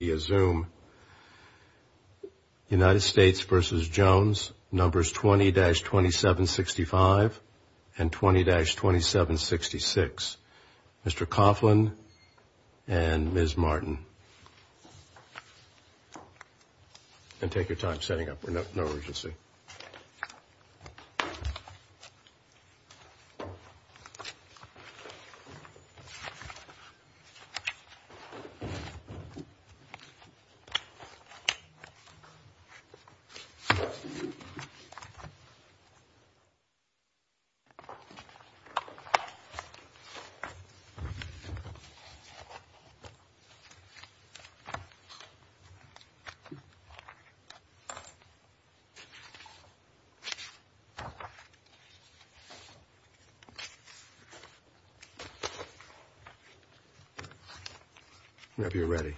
via Zoom, United States v. Jones, numbers 20-2765 and 20-2766, Mr. Coughlin and Ms. Martin. And take your time setting up, we're in no urgency. If you're ready.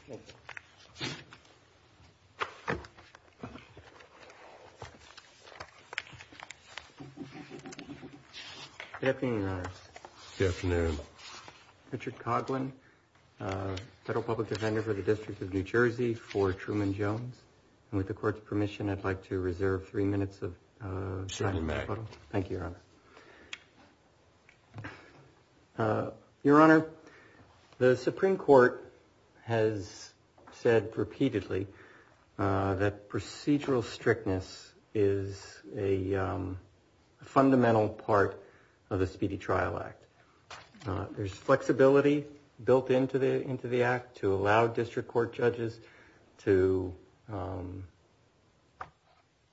Good afternoon, Richard Coughlin, Federal Public Defender for the District of New Jersey for Truman Jones. And with the court's permission, I'd like to reserve three minutes of time. Thank you. Your Honor, the Supreme Court has said repeatedly that procedural strictness is a fundamental part of the Speedy Trial Act. There's flexibility built into the into the act to allow district court judges to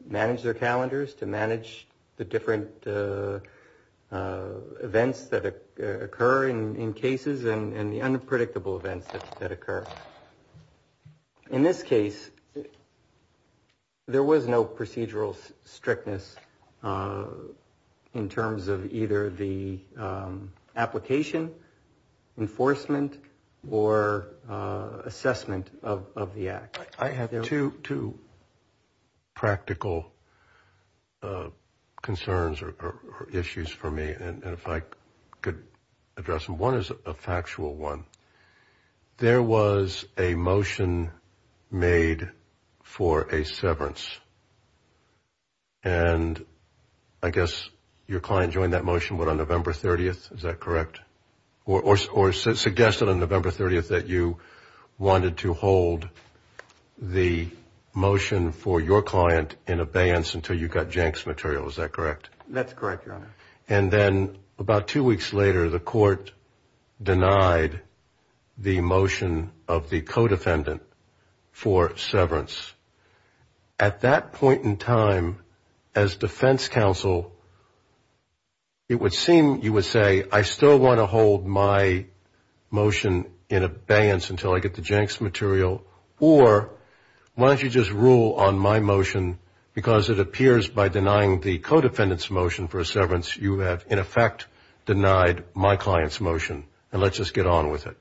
manage their calendars, to manage the different events that occur in cases and the unpredictable events that occur. In this case, there was no procedural strictness in terms of either the application, enforcement or assessment of the act. I have two to practical concerns or issues for me. And if I could address them, one is a factual one. There was a motion made for a severance. And I guess your client joined that motion on November 30th. Is that correct? Or suggested on November 30th that you wanted to hold the motion for your client in abeyance until you got Jenks material. Is that correct? That's correct, Your Honor. And then about two weeks later, the court denied the motion of the co-defendant for severance. At that point in time, as defense counsel, it would seem you would say, I still want to hold my motion in abeyance until I get the Jenks material. Or why don't you just rule on my motion because it appears by denying the co-defendant's motion for a severance, you have in effect denied my client's motion and let's just get on with it.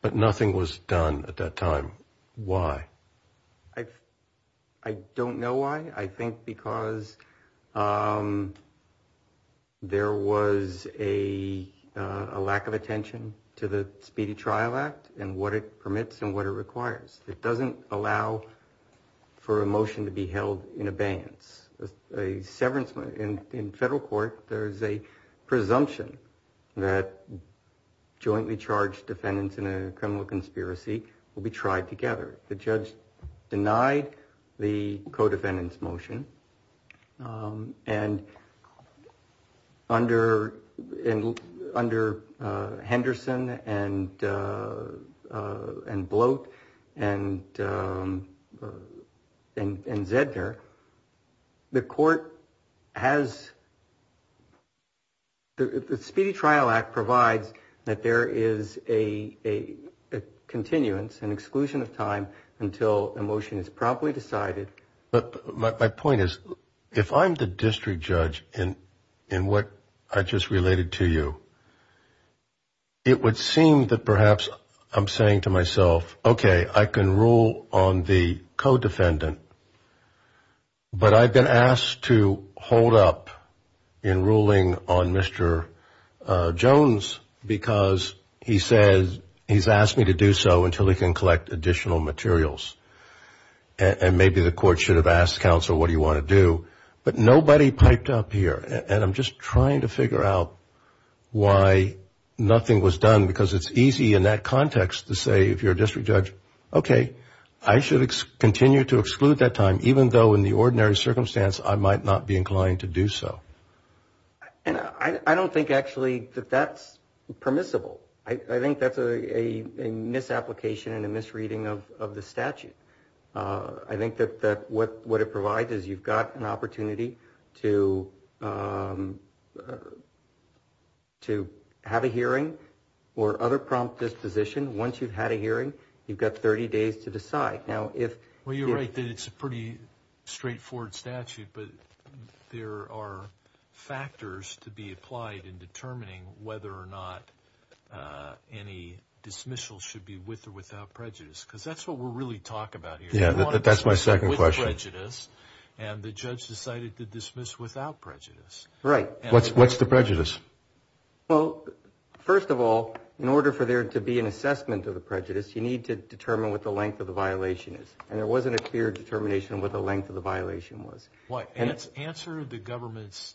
But nothing was done at that time. Why? I don't know why. I think because there was a lack of attention to the Speedy Trial Act and what it permits and what it requires. It doesn't allow for a motion to be held in abeyance. A severance in federal court, there is a presumption that jointly charged defendants in a criminal conspiracy will be tried together. The judge denied the co-defendant's motion and under Henderson and Bloat and Zedner, the court has, the Speedy Trial Act provides that there is a continuance, an exclusion of time until a motion is properly decided. But my point is, if I'm the district judge in what I just related to you, it would seem that perhaps I'm saying to myself, okay, I can rule on the co-defendant, but I've been asked to hold up in ruling on Mr. Jones because he says he's asked me to do so until he can collect additional materials. And maybe the court should have asked counsel what do you want to do. But nobody piped up here, and I'm just trying to figure out why nothing was done, because it's easy in that context to say if you're a district judge, okay, I should continue to exclude that time, even though in the ordinary circumstance I might not be inclined to do so. And I don't think actually that that's permissible. I think that's a misapplication and a misreading of the statute. I think that what it provides is you've got an opportunity to have a hearing or other prompt disposition. Once you've had a hearing, you've got 30 days to decide. Well, you're right that it's a pretty straightforward statute, but there are factors to be applied in determining whether or not any dismissal should be with or without prejudice, because that's what we're really talking about here. Yeah, that's my second question. And the judge decided to dismiss without prejudice. Right. What's the prejudice? Well, first of all, in order for there to be an assessment of the prejudice, you need to determine what the length of the violation is. And there wasn't a clear determination of what the length of the violation was. Answer the government's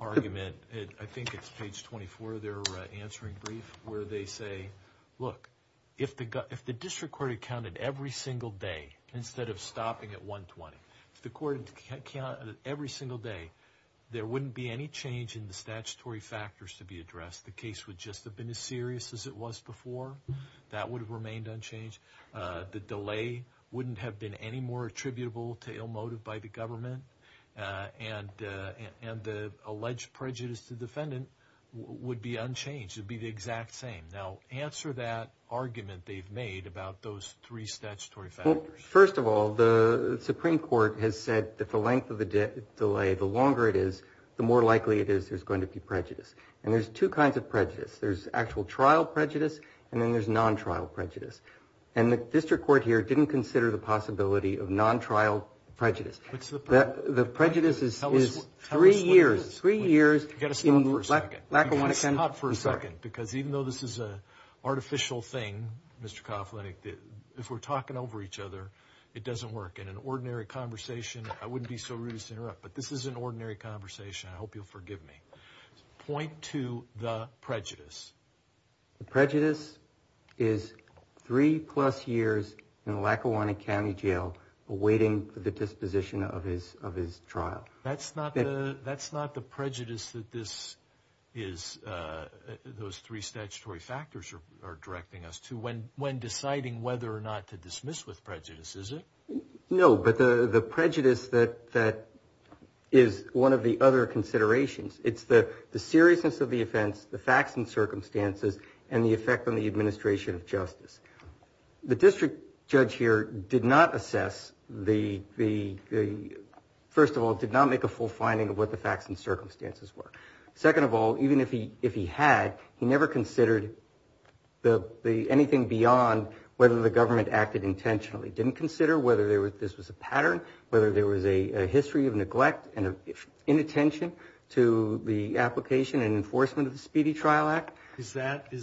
argument. I think it's page 24 of their answering brief where they say, look, if the district court had counted every single day instead of stopping at 120, if the court had counted every single day, there wouldn't be any change in the statutory factors to be addressed. The case would just have been as serious as it was before. That would have remained unchanged. The delay wouldn't have been any more attributable to ill motive by the government. And the alleged prejudice to the defendant would be unchanged. It would be the exact same. Now, answer that argument they've made about those three statutory factors. Well, first of all, the Supreme Court has said that the length of the delay, the longer it is, the more likely it is there's going to be prejudice. And there's two kinds of prejudice. There's actual trial prejudice, and then there's non-trial prejudice. And the district court here didn't consider the possibility of non-trial prejudice. What's the prejudice? The prejudice is three years. Tell us what it is. You've got to stop for a second. Because even though this is an artificial thing, Mr. Kovlenek, if we're talking over each other, it doesn't work. In an ordinary conversation, I wouldn't be so rude as to interrupt, but this is an ordinary conversation. I hope you'll forgive me. Point to the prejudice. The prejudice is three-plus years in Lackawanna County Jail awaiting the disposition of his trial. That's not the prejudice that this is, those three statutory factors are directing us to when deciding whether or not to dismiss with prejudice, is it? No, but the prejudice that is one of the other considerations, it's the seriousness of the offense, the facts and circumstances, and the effect on the administration of justice. The district judge here did not assess the, first of all, did not make a full finding of what the facts and circumstances were. Second of all, even if he had, he never considered anything beyond whether the government acted intentionally. Didn't consider whether this was a pattern, whether there was a history of neglect and inattention to the application and enforcement of the Speedy Trial Act. Is that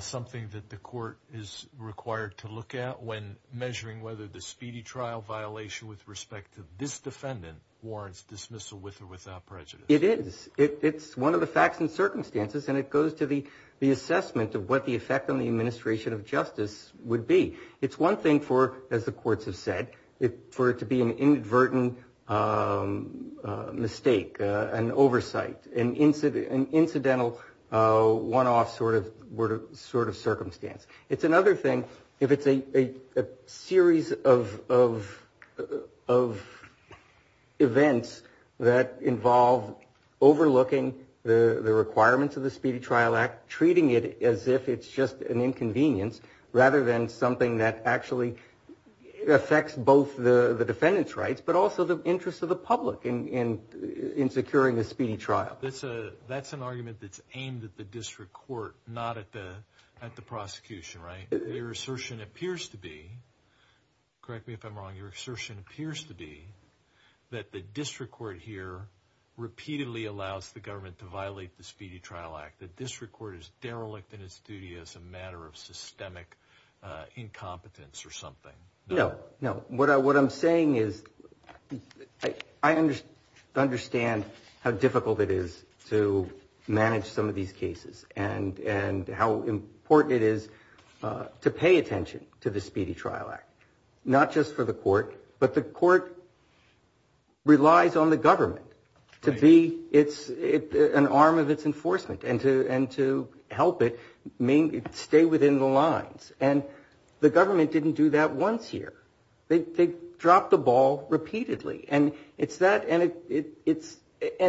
something that the court is required to look at when measuring whether the Speedy Trial violation with respect to this defendant warrants dismissal with or without prejudice? It is. It's one of the facts and circumstances, and it goes to the assessment of what the effect on the administration of justice would be. It's one thing for, as the courts have said, for it to be an inadvertent mistake, an oversight, an incidental one-off sort of circumstance. It's another thing if it's a series of events that involve overlooking the requirements of the Speedy Trial Act, treating it as if it's just an inconvenience rather than something that actually affects both the defendant's rights but also the interests of the public in securing a speedy trial. That's an argument that's aimed at the district court, not at the prosecution, right? Your assertion appears to be, correct me if I'm wrong, your assertion appears to be that the district court here repeatedly allows the government to violate the Speedy Trial Act. The district court is derelict in its duty as a matter of systemic incompetence or something. No, no. What I'm saying is I understand how difficult it is to manage some of these cases and how important it is to pay attention to the Speedy Trial Act, not just for the court, but the court relies on the government to be an arm of its enforcement and to help it stay within the lines. And the government didn't do that once here. They dropped the ball repeatedly. And it's that, and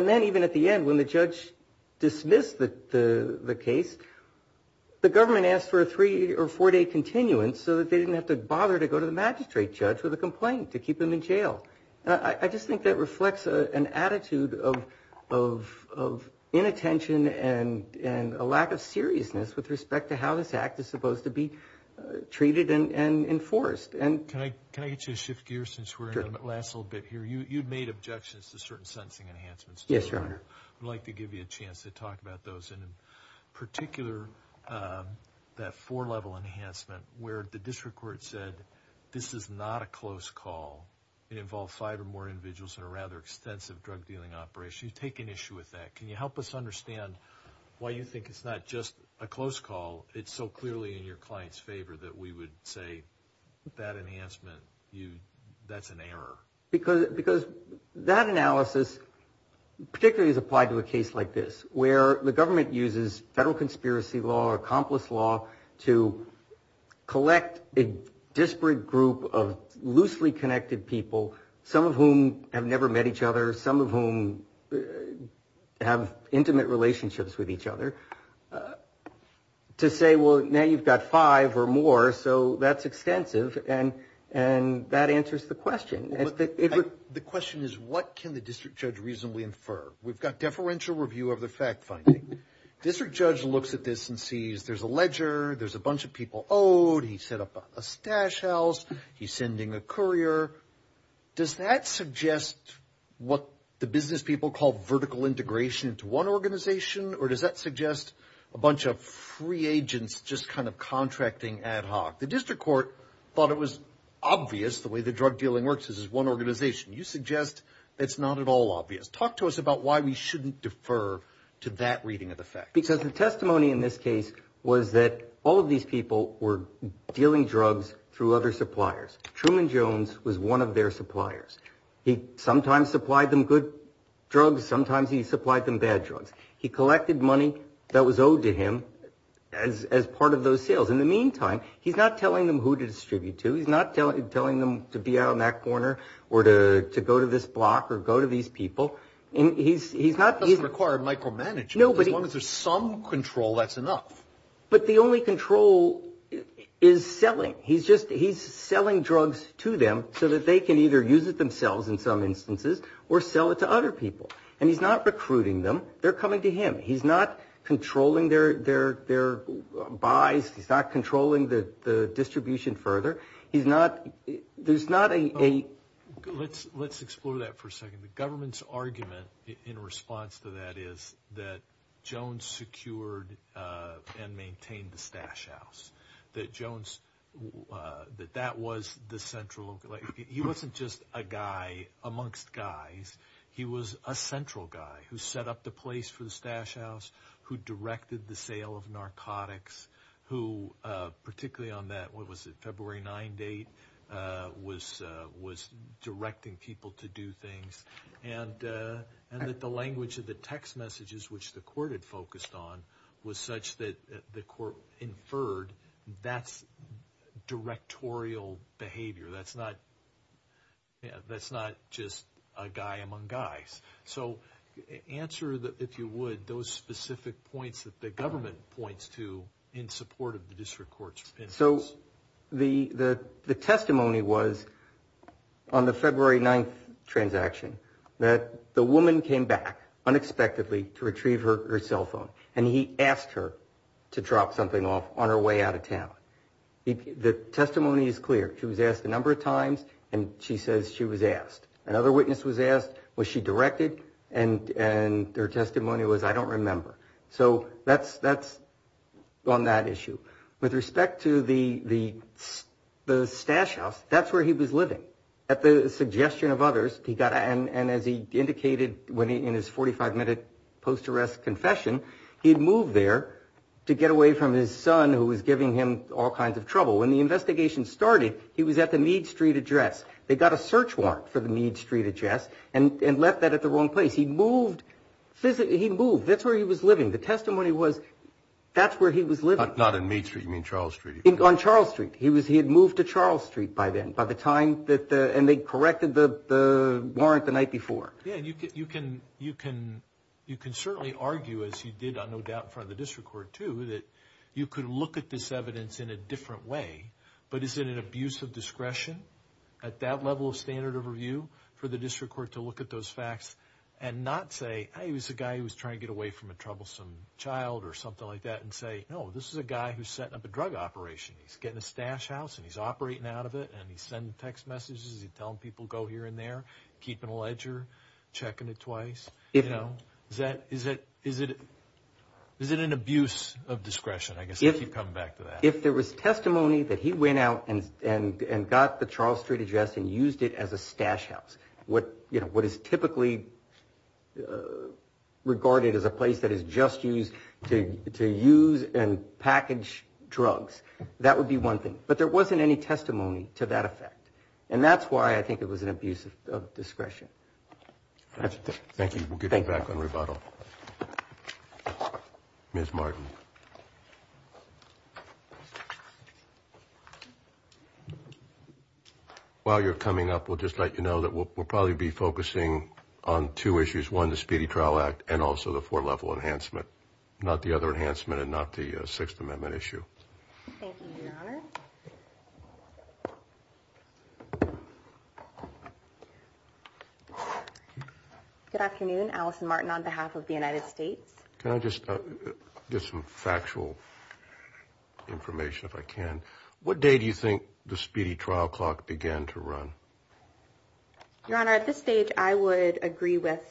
then even at the end when the judge dismissed the case, the government asked for a three- or four-day continuance so that they didn't have to bother to go to the magistrate judge with a complaint to keep them in jail. I just think that reflects an attitude of inattention and a lack of seriousness with respect to how this act is supposed to be treated and enforced. Can I get you to shift gears since we're in the last little bit here? You've made objections to certain sentencing enhancements. Yes, Your Honor. I'd like to give you a chance to talk about those, and in particular that four-level enhancement where the district court said this is not a close call. It involves five or more individuals in a rather extensive drug-dealing operation. You've taken issue with that. Can you help us understand why you think it's not just a close call, it's so clearly in your client's favor that we would say that enhancement, that's an error? Because that analysis particularly is applied to a case like this where the government uses federal conspiracy law or accomplice law to collect a disparate group of loosely connected people, some of whom have never met each other, some of whom have intimate relationships with each other, to say, well, now you've got five or more, so that's extensive, and that answers the question. The question is what can the district judge reasonably infer? We've got deferential review of the fact-finding. District judge looks at this and sees there's a ledger, there's a bunch of people owed, he set up a stash house, he's sending a courier. Does that suggest what the business people call vertical integration to one organization, or does that suggest a bunch of free agents just kind of contracting ad hoc? The district court thought it was obvious the way the drug-dealing works, this is one organization. You suggest it's not at all obvious. Talk to us about why we shouldn't defer to that reading of the facts. Because the testimony in this case was that all of these people were dealing drugs through other suppliers. Truman Jones was one of their suppliers. He sometimes supplied them good drugs, sometimes he supplied them bad drugs. He collected money that was owed to him as part of those sales. In the meantime, he's not telling them who to distribute to. He's not telling them to be out in that corner or to go to this block or go to these people. He's not using them. That doesn't require micromanagement. As long as there's some control, that's enough. But the only control is selling. He's just selling drugs to them so that they can either use it themselves in some instances or sell it to other people. And he's not recruiting them. They're coming to him. He's not controlling their buys. He's not controlling the distribution further. There's not a- Let's explore that for a second. The government's argument in response to that is that Jones secured and maintained the stash house, that Jones, that that was the central- He wasn't just a guy amongst guys. He was a central guy who set up the place for the stash house, who directed the sale of narcotics, who, particularly on that, what was it, February 9 date, was directing people to do things, and that the language of the text messages, which the court had focused on, was such that the court inferred that's directorial behavior. That's not just a guy among guys. So answer, if you would, those specific points that the government points to in support of the district court's- So the testimony was on the February 9 transaction that the woman came back unexpectedly to retrieve her cell phone, and he asked her to drop something off on her way out of town. The testimony is clear. She was asked a number of times, and she says she was asked. Another witness was asked, was she directed? And their testimony was, I don't remember. So that's on that issue. With respect to the stash house, that's where he was living. At the suggestion of others, and as he indicated in his 45-minute post-arrest confession, he had moved there to get away from his son, who was giving him all kinds of trouble. When the investigation started, he was at the Meade Street address. They got a search warrant for the Meade Street address and left that at the wrong place. He moved. That's where he was living. The testimony was that's where he was living. Not in Meade Street. You mean Charles Street. On Charles Street. He had moved to Charles Street by then. And they corrected the warrant the night before. You can certainly argue, as you did, no doubt, in front of the district court, too, that you could look at this evidence in a different way. But is it an abuse of discretion at that level of standard of review for the district court to look at those facts and not say, hey, it was a guy who was trying to get away from a troublesome child or something like that, and say, no, this is a guy who's setting up a drug operation. He's getting a stash house, and he's operating out of it, and he's sending text messages. He's telling people to go here and there, keeping a ledger, checking it twice. Is it an abuse of discretion? I guess I keep coming back to that. If there was testimony that he went out and got the Charles Street address and used it as a stash house, what is typically regarded as a place that is just used to use and package drugs, that would be one thing. But there wasn't any testimony to that effect. And that's why I think it was an abuse of discretion. Thank you. We'll get you back on rebuttal. Ms. Martin. While you're coming up, we'll just let you know that we'll probably be focusing on two issues, one, the Speedy Trial Act and also the four-level enhancement, not the other enhancement and not the Sixth Amendment issue. Thank you, Your Honor. Good afternoon. Allison Martin on behalf of the United States. Can I just get some factual information, if I can? What day do you think the Speedy Trial Clock began to run? Your Honor, at this stage, I would agree with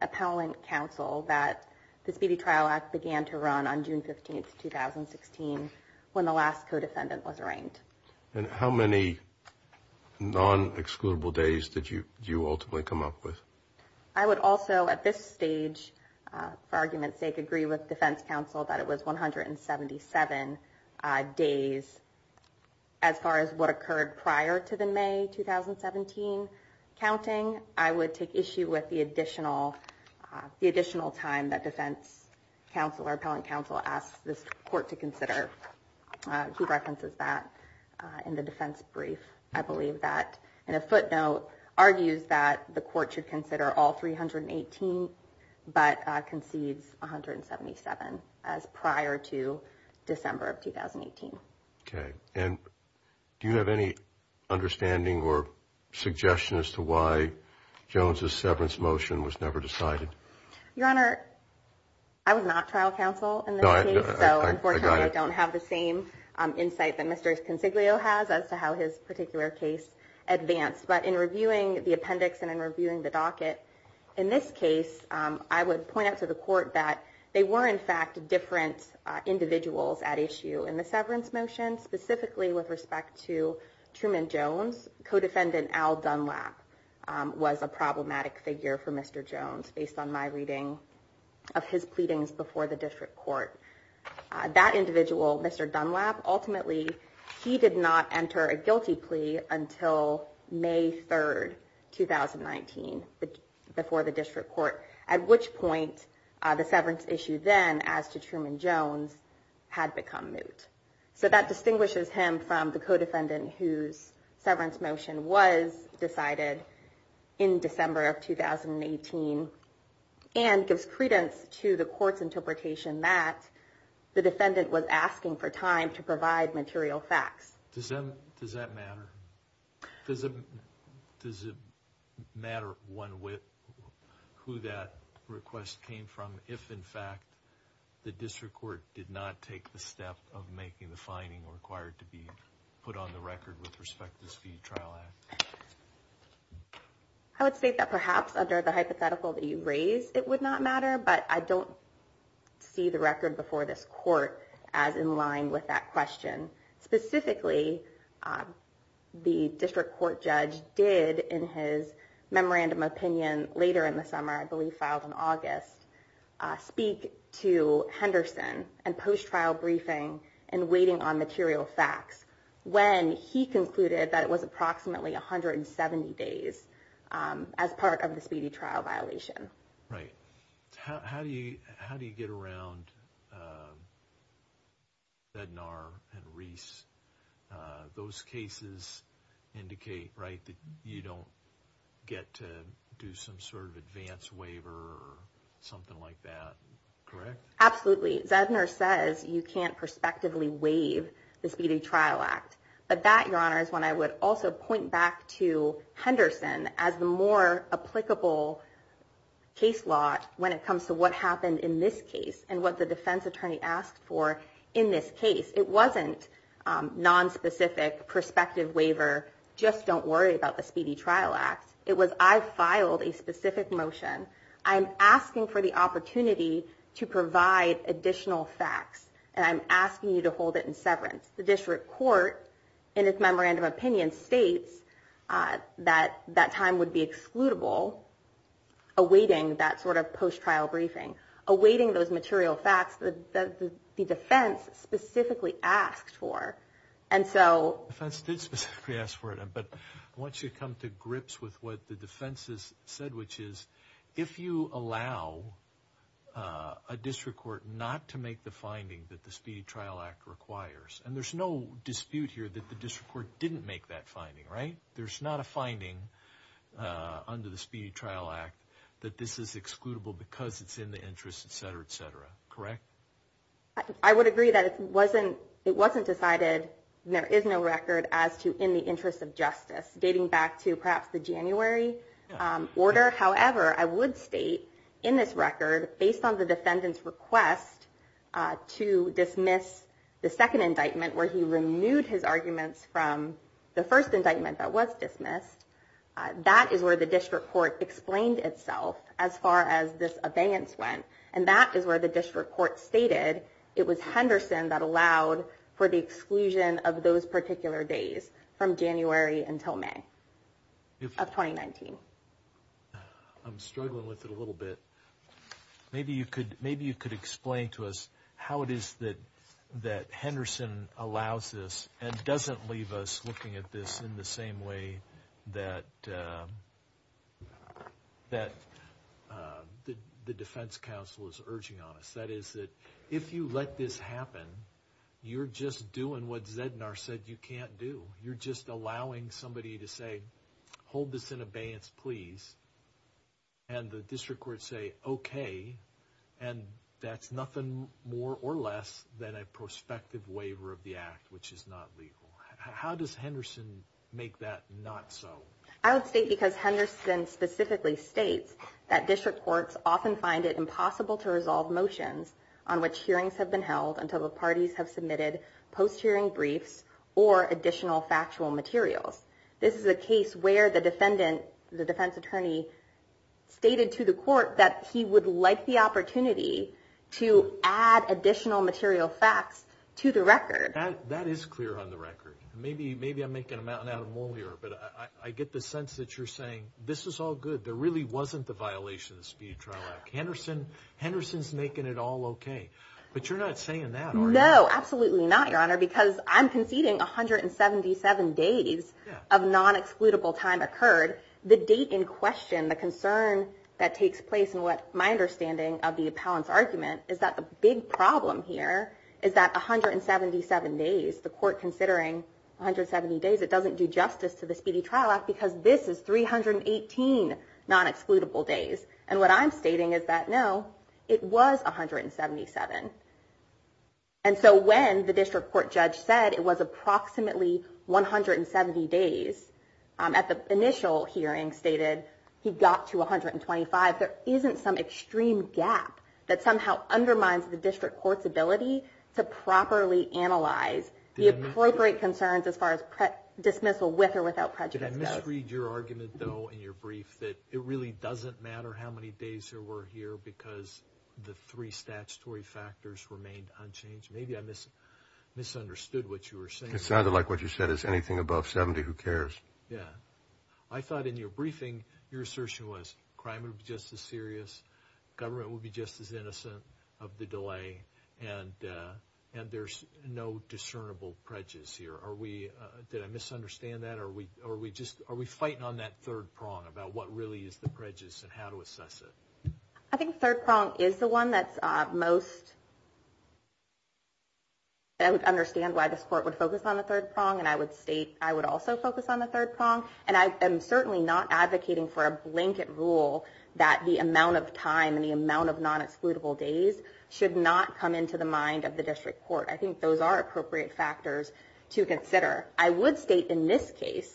appellant counsel that the Speedy Trial Act began to run on June 15, 2016, when the last co-defendant was arraigned. And how many non-excludable days did you ultimately come up with? I would also, at this stage, for argument's sake, agree with defense counsel that it was 177 days. As far as what occurred prior to the May 2017 counting, I would take issue with the additional time that defense counsel or appellant counsel asked this court to consider. Who references that in the defense brief? I believe that in a footnote argues that the court should consider all 318, but concedes 177 as prior to December of 2018. Okay. And do you have any understanding or suggestion as to why Jones's severance motion was never decided? Your Honor, I was not trial counsel in this case, so unfortunately I don't have the same insight that Mr. Consiglio has as to how his particular case advanced. But in reviewing the appendix and in reviewing the docket, in this case, I would point out to the court that they were, in fact, different individuals at issue in the severance motion, specifically with respect to Truman Jones. Co-defendant Al Dunlap was a problematic figure for Mr. Jones, based on my reading of his pleadings before the district court. That individual, Mr. Dunlap, ultimately, he did not enter a guilty plea until May 3rd, 2019, before the district court, at which point the severance issue then, as to Truman Jones, had become moot. So that distinguishes him from the co-defendant whose severance motion was decided in December of 2018 and gives credence to the court's interpretation that the defendant was asking for time to provide material facts. Does it matter who that request came from if, in fact, the district court did not take the step of making the finding required to be put on the record with respect to the Speed Trial Act? I would state that perhaps, under the hypothetical that you raised, it would not matter, but I don't see the record before this court as in line with that question. Specifically, the district court judge did, in his memorandum opinion later in the summer, I believe filed in August, speak to Henderson and post-trial briefing and waiting on material facts when he concluded that it was approximately 170 days as part of the Speedy Trial Violation. How do you get around Zednar and Reese? Those cases indicate that you don't get to do some sort of advance waiver or something like that, correct? Absolutely. Zednar says you can't prospectively waive the Speedy Trial Act. But that, Your Honor, is one I would also point back to when it comes to what happened in this case and what the defense attorney asked for in this case. It wasn't nonspecific prospective waiver, just don't worry about the Speedy Trial Act. It was, I filed a specific motion. I'm asking for the opportunity to provide additional facts, and I'm asking you to hold it in severance. The district court in its memorandum opinion states that that time would be excludable awaiting that sort of post-trial briefing, awaiting those material facts that the defense specifically asked for. The defense did specifically ask for it, but I want you to come to grips with what the defense has said, which is if you allow a district court not to make the finding that the Speedy Trial Act requires, and there's no dispute here that the district court didn't make that finding under the Speedy Trial Act that this is excludable because it's in the interest, et cetera, et cetera. Correct? I would agree that it wasn't decided, and there is no record, as to in the interest of justice, dating back to perhaps the January order. However, I would state in this record based on the defendant's request to dismiss the second indictment where he removed his arguments from the first indictment that was dismissed, that is where the district court explained itself as far as this abeyance went, and that is where the district court stated it was Henderson that allowed for the exclusion of those particular days from January until May of 2019. I'm struggling with it a little bit. Maybe you could explain to us how it is that Henderson allows this and doesn't leave us looking at this in the same way that the defense counsel is urging on us. That is that if you let this happen, you're just doing what Zednar said you can't do. You're just allowing somebody to say, hold this in abeyance, please, and the district court say, okay, and that's nothing more or less than a breach is not legal. How does Henderson make that not so? I would state because Henderson specifically states that district courts often find it impossible to resolve motions on which hearings have been held until the parties have submitted post-hearing briefs or additional factual materials. This is a case where the defendant, the defense attorney, stated to the court that he would like the opportunity to add additional material facts to the record. That is clear on the record. Maybe I'm making a mountain out of a mole here, but I get the sense that you're saying, this is all good. There really wasn't the violation of the Speedy Trial Act. Henderson is making it all okay. But you're not saying that, are you? No, absolutely not, Your Honor, because I'm conceding 177 days of non-excludable time occurred. The date in question, the concern that takes place in my understanding of the appellant's argument is that the big problem here is that 177 days, the court considering 170 days, it doesn't do justice to the Speedy Trial Act because this is 318 non-excludable days. And what I'm stating is that, no, it was 177. And so when the district court judge said it was approximately 170 days, at the initial hearing stated he got to 125, there isn't some undermines the district court's ability to properly analyze the appropriate concerns as far as dismissal with or without prejudice. Did I misread your argument, though, in your brief that it really doesn't matter how many days there were here because the three statutory factors remained unchanged? Maybe I misunderstood what you were saying. It sounded like what you said is anything above 70, who cares? I thought in your briefing, your assertion was crime would be just as serious, government would be just as innocent of the delay, and there's no discernible prejudice here. Did I misunderstand that, or are we fighting on that third prong about what really is the prejudice and how to assess it? I think the third prong is the one that's most I would understand why this court would focus on the third prong, and I would state I would also focus on the third prong. And I am certainly not advocating for a blanket rule that the amount of time and the amount of non-excludable days should not come into the mind of the district court. I think those are appropriate factors to consider. I would state in this case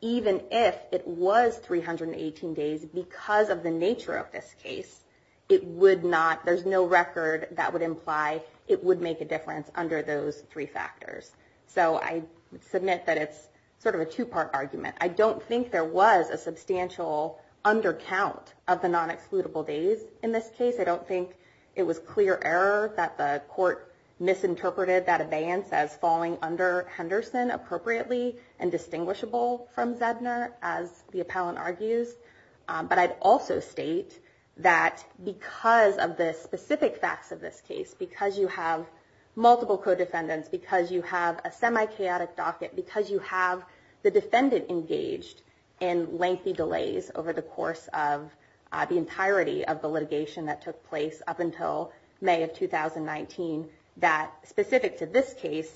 even if it was 318 days, because of the nature of this case, it would not, there's no record that would imply it would make a difference under those three factors. So, I submit that it's sort of a two-part argument. I don't think there was a substantial undercount of the non-excludable days in this case. I don't think it was clear error that the court misinterpreted that abeyance as falling under Henderson appropriately and distinguishable from Zedner, as the appellant argues. But I'd also state that because of the specific facts of this case, because you have multiple co-defendants, because you have a semi-chaotic docket, because you have the lengthy delays over the course of the entirety of the litigation that took place up until May of 2019, that specific to this case,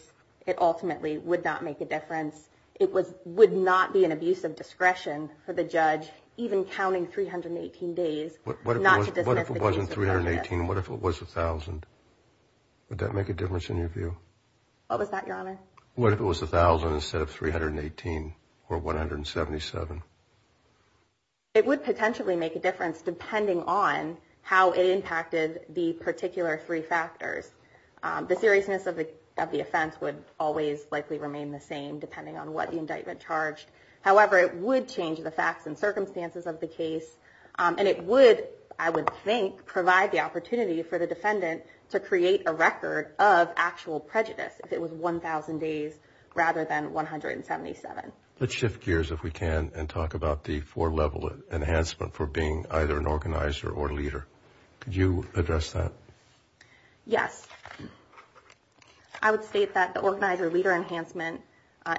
it ultimately would not make a difference. It would not be an abuse of discretion for the judge, even counting 318 days, not to dismiss the case of Henderson. What if it wasn't 318? What if it was 1,000? Would that make a difference in your view? What was that, Your Honor? What if it was 1,000 instead of 318 or 177? It would potentially make a difference depending on how it impacted the particular three factors. The seriousness of the offense would always likely remain the same depending on what the indictment charged. However, it would change the facts and circumstances of the case, and it would, I would think, provide the opportunity for the defendant to create a record of actual prejudice if it was 1,000 days rather than 177. Let's shift gears if we can and talk about the four-level enhancement for being either an organizer or leader. Could you address that? Yes. I would state that the organizer-leader enhancement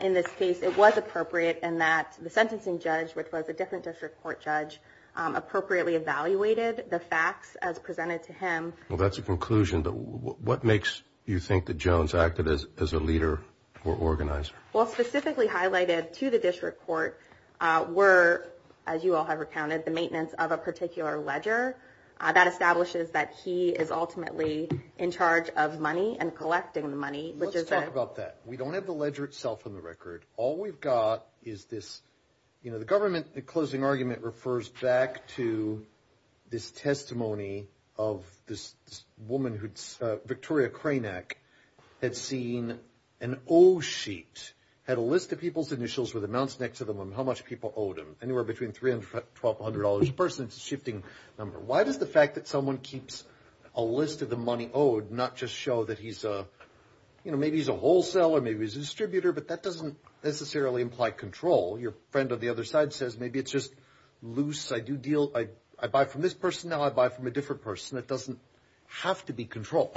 in this case, it was appropriate in that the sentencing judge, which was a different district court judge, appropriately evaluated the facts as presented to him. Well, that's a conclusion, but what makes you think that Jones acted as a leader or organizer? Well, specifically highlighted to the district court were, as you all have recounted, the maintenance of a particular ledger. That establishes that he is ultimately in charge of money and collecting the money. Let's talk about that. We don't have the ledger itself on the record. All we've got is this government closing argument refers back to this testimony of this woman, Victoria Cranach, had seen an old sheet had a list of people's initials with amounts next to them on how much people owed them, anywhere between $300, $1,200 a person. It's a shifting number. Why does the fact that someone keeps a list of the money owed not just show that he's a maybe he's a wholesaler, maybe he's a distributor, but that doesn't necessarily imply control. Your friend on the other side says maybe it's just loose. I do deal. I buy from this person. Now I buy from a different person. It doesn't have to be control.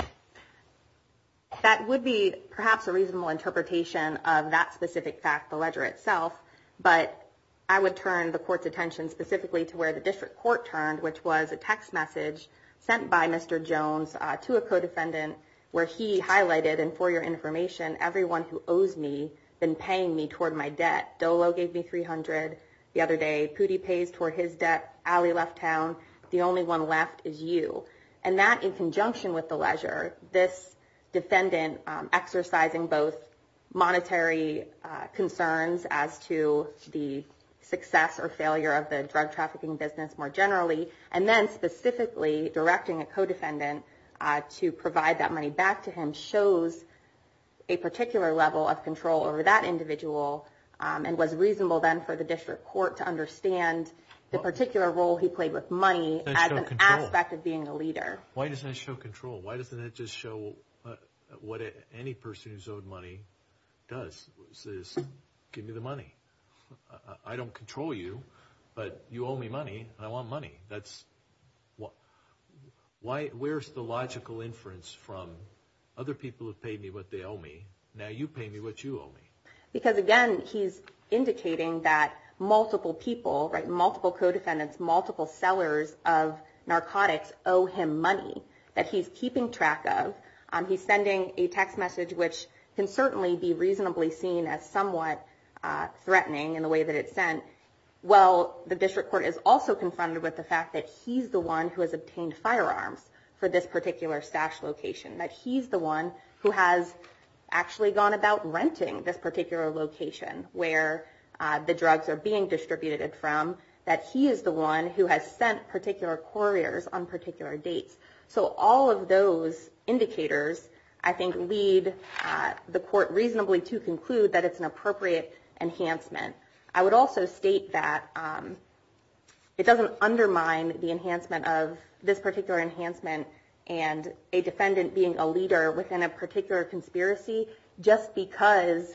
That would be perhaps a reasonable interpretation of that specific fact, the ledger itself, but I would turn the court's attention specifically to where the district court turned, which was a text message sent by Mr. Jones to a co-defendant where he highlighted, and for your information, everyone who owes me been paying me toward my debt. Dolo gave me $300 the other day. Pudi pays toward his debt. Ali left town. The fact that in conjunction with the ledger, this defendant exercising both monetary concerns as to the success or failure of the drug trafficking business more generally, and then specifically directing a co-defendant to provide that money back to him shows a particular level of control over that individual and was reasonable then for the district court to understand the particular role he played with money as an aspect of being a leader. Why doesn't it show control? Why doesn't it just show what any person who's owed money does? It says, give me the money. I don't control you, but you owe me money, and I want money. Where's the logical inference from other people have paid me what they owe me. Now you pay me what you owe me. Because again, he's indicating that multiple people, multiple co-defendants, multiple sellers of narcotics owe him money that he's keeping track of. He's sending a text message which can certainly be reasonably seen as somewhat threatening in the way that it's sent. Well, the district court is also confronted with the fact that he's the one who has obtained firearms for this particular stash location. That he's the one who has actually gone about renting this particular location where the drugs are being distributed from. That he is the one who has sent particular couriers on particular dates. So all of those indicators I think lead the court reasonably to conclude that it's an appropriate enhancement. I would also state that it doesn't undermine the enhancement of this particular enhancement and a defendant being a leader within a particular conspiracy just because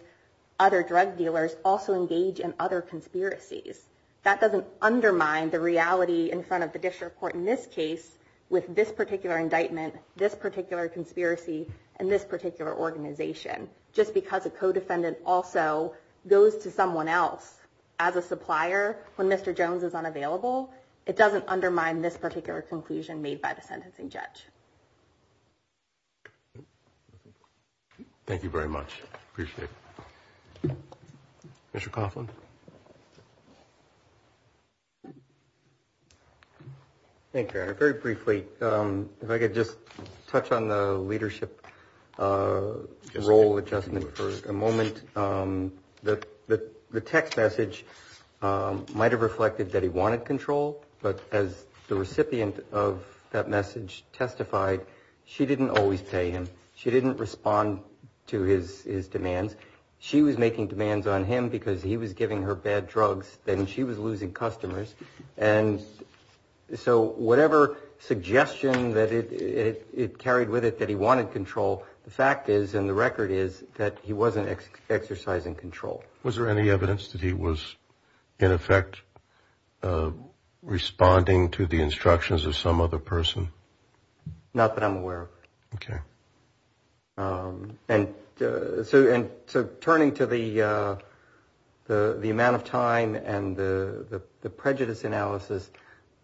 other drug dealers also engage in other conspiracies. That doesn't undermine the reality in front of the district court in this case with this particular indictment, this particular conspiracy, and this particular organization. Just because a co-defendant also goes to someone else as a supplier when Mr. Jones is unavailable, it doesn't undermine this particular conclusion made by the sentencing judge. Thank you very much. Appreciate it. Mr. Coughlin. Thank you, Your Honor. Very briefly, if I could just touch on the leadership role adjustment for a moment. The text message might have reflected that he wanted control, but as the recipient of that message testified, she didn't always pay him. She didn't respond to his demands. She was making demands on him because he was giving her bad drugs and she was losing customers. And so whatever suggestion that it carried with it that he wanted control, the fact is and the record is that he wasn't exercising control. Was there any evidence that he was, in effect, responding to the instructions of some other person? Not that I'm aware of. Okay. Turning to the amount of time and the prejudice analysis,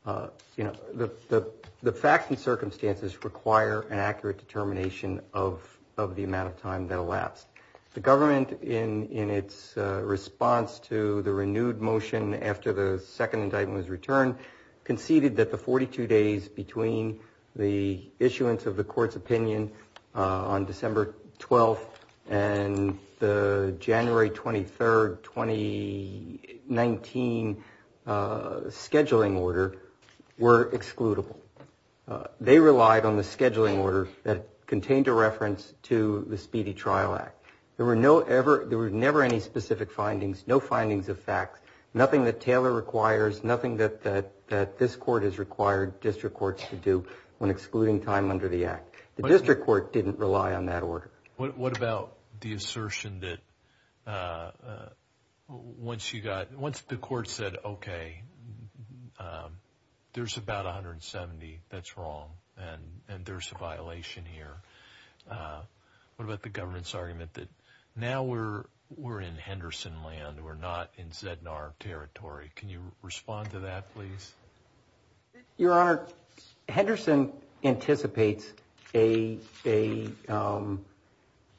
the facts and circumstances require an accurate determination of the amount of time that elapsed. The government, in its response to the renewed motion after the second indictment was returned, conceded that the 42 days between the issuance of the court's opinion on December 12th and the January 23rd 2019 scheduling order were excludable. They relied on the scheduling order that contained a reference to the Speedy Trial Act. There were never any specific findings, no findings of facts, nothing that Taylor requires, nothing that this court has required district courts to do when excluding time under the Act. The district court didn't rely on that order. What about the assertion that once you got, once the court said, okay, there's about 170 that's wrong and there's a violation here. What about the government's argument that now we're in Henderson land, we're not in ZNR territory? Can you Your Honor, Henderson anticipates a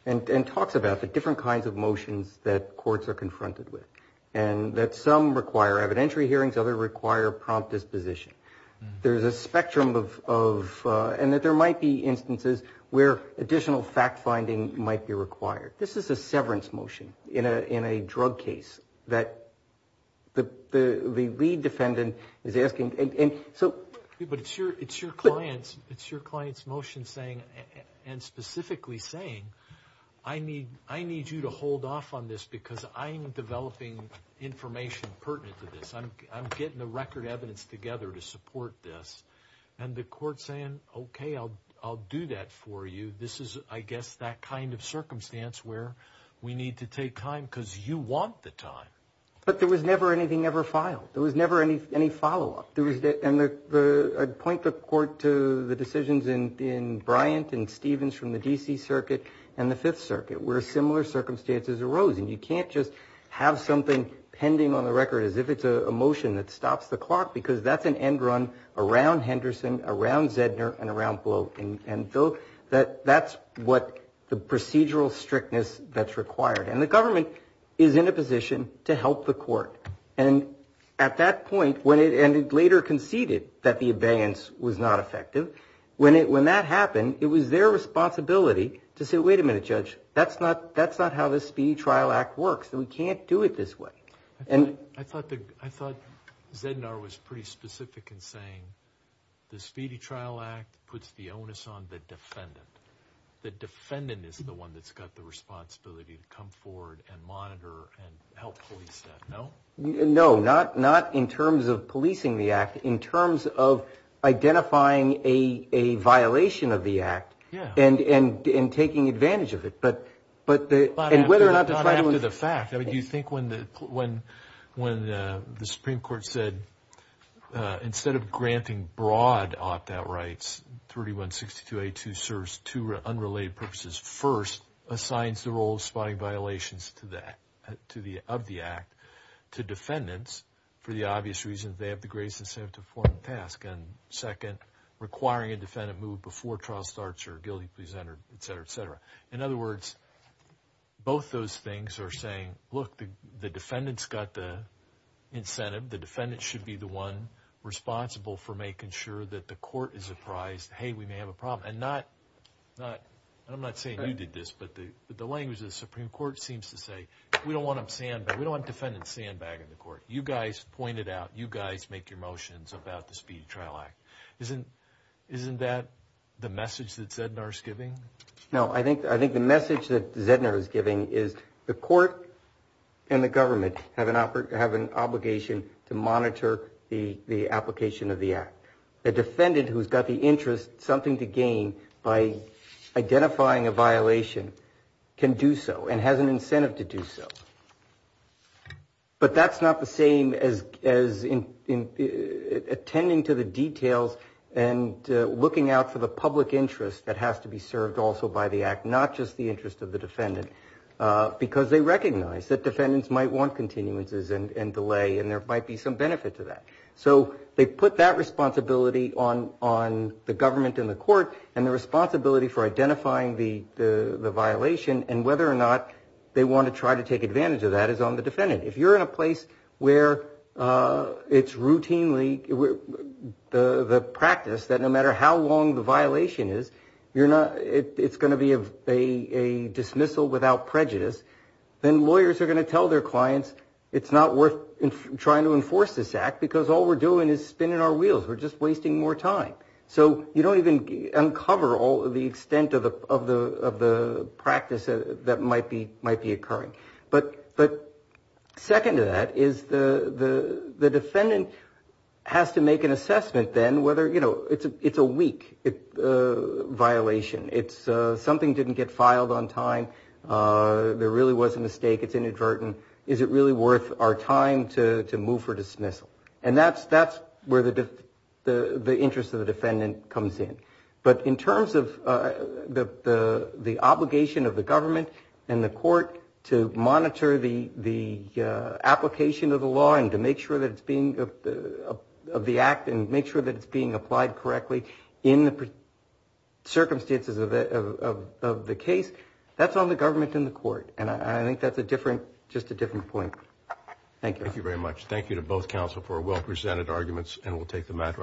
and talks about the different kinds of motions that courts are confronted with and that some require evidentiary hearings, other require prompt disposition. There's a spectrum of, and that there might be instances where additional fact-finding might be required. This is a severance motion in a drug case that the lead But it's your client's motion saying and specifically saying, I need you to hold off on this because I'm developing information pertinent to this. I'm getting the record evidence together to support this and the court saying, okay, I'll do that for you. This is I guess that kind of circumstance where we need to take time because you want the time. But there was never anything ever filed. There was never any follow-up. And I'd point the court to the decisions in Bryant and Stevens from the D.C. Circuit and the Fifth Circuit where similar circumstances arose. And you can't just have something pending on the record as if it's a motion that stops the clock because that's an end run around Henderson, around ZNR and around Bloat and that's what the procedural strictness that's required. And the government is in a position to help the court and at that point, when it later conceded that the abeyance was not effective, when that happened, it was their responsibility to say, wait a minute, Judge, that's not how the Speedy Trial Act works. We can't do it this way. I thought ZNR was pretty specific in saying the Speedy Trial Act puts the onus on the defendant. The defendant is the one that's got the responsibility to come forward and monitor and help police that, no? No, not in terms of policing the act. In terms of identifying a violation of the act and taking advantage of it. But the... Not after the fact. Do you think when the Supreme Court said instead of granting broad opt-out rights, 3162 A2 serves two unrelated purposes. First, assigns the role of providing violations of the act to defendants for the obvious reasons they have the greatest incentive to perform the task. And second, requiring a defendant move before trial starts or guilty presented, etc., etc. In other words, both those things are saying, look, the defendant's got the incentive. The defendant should be the one responsible for making sure that the court is apprised, hey, we may have a problem. And I'm not saying you did this, but the language of the Supreme Court seems to say, we don't want defendant sandbagging the court. You guys pointed out, you guys make your motions about the Speedy Trial Act. Isn't that the message that Zednar is giving? No, I think the message that Zednar is giving is the court and the government have an obligation to monitor the application of the act. The defendant who's got the interest, something to gain by identifying a violation can do so and has an incentive to do so. But that's not the same as attending to the details and looking out for the public interest that has to be served also by the act, not just the interest of the defendant, because they recognize that defendants might want continuances and delay and there might be some benefit to that. So they put that responsibility on the government and the court and the responsibility for identifying the violation and whether or not they want to try to take advantage of that is on the defendant. If you're in a place where it's routinely the practice that no matter how long the violation is, it's going to be a dismissal without prejudice, then lawyers are going to tell their clients it's not worth trying to enforce this act because all we're doing is spinning our time. So you don't even uncover all of the extent of the practice that might be occurring. But second to that is the defendant has to make an assessment then whether, you know, it's a weak violation. It's something didn't get filed on time. There really was a mistake. It's inadvertent. Is it really worth our time to move for dismissal? And that's where the interest of the defendant comes in. But in terms of the obligation of the government and the court to monitor the application of the law and to make sure that it's being, of the act and make sure that it's being applied correctly in the circumstances of the case, that's on the government and the court. And I think that's a different, just a different point. Thank you. Thank you very much. Thank you to both counsel for well presented arguments and we'll take the matter under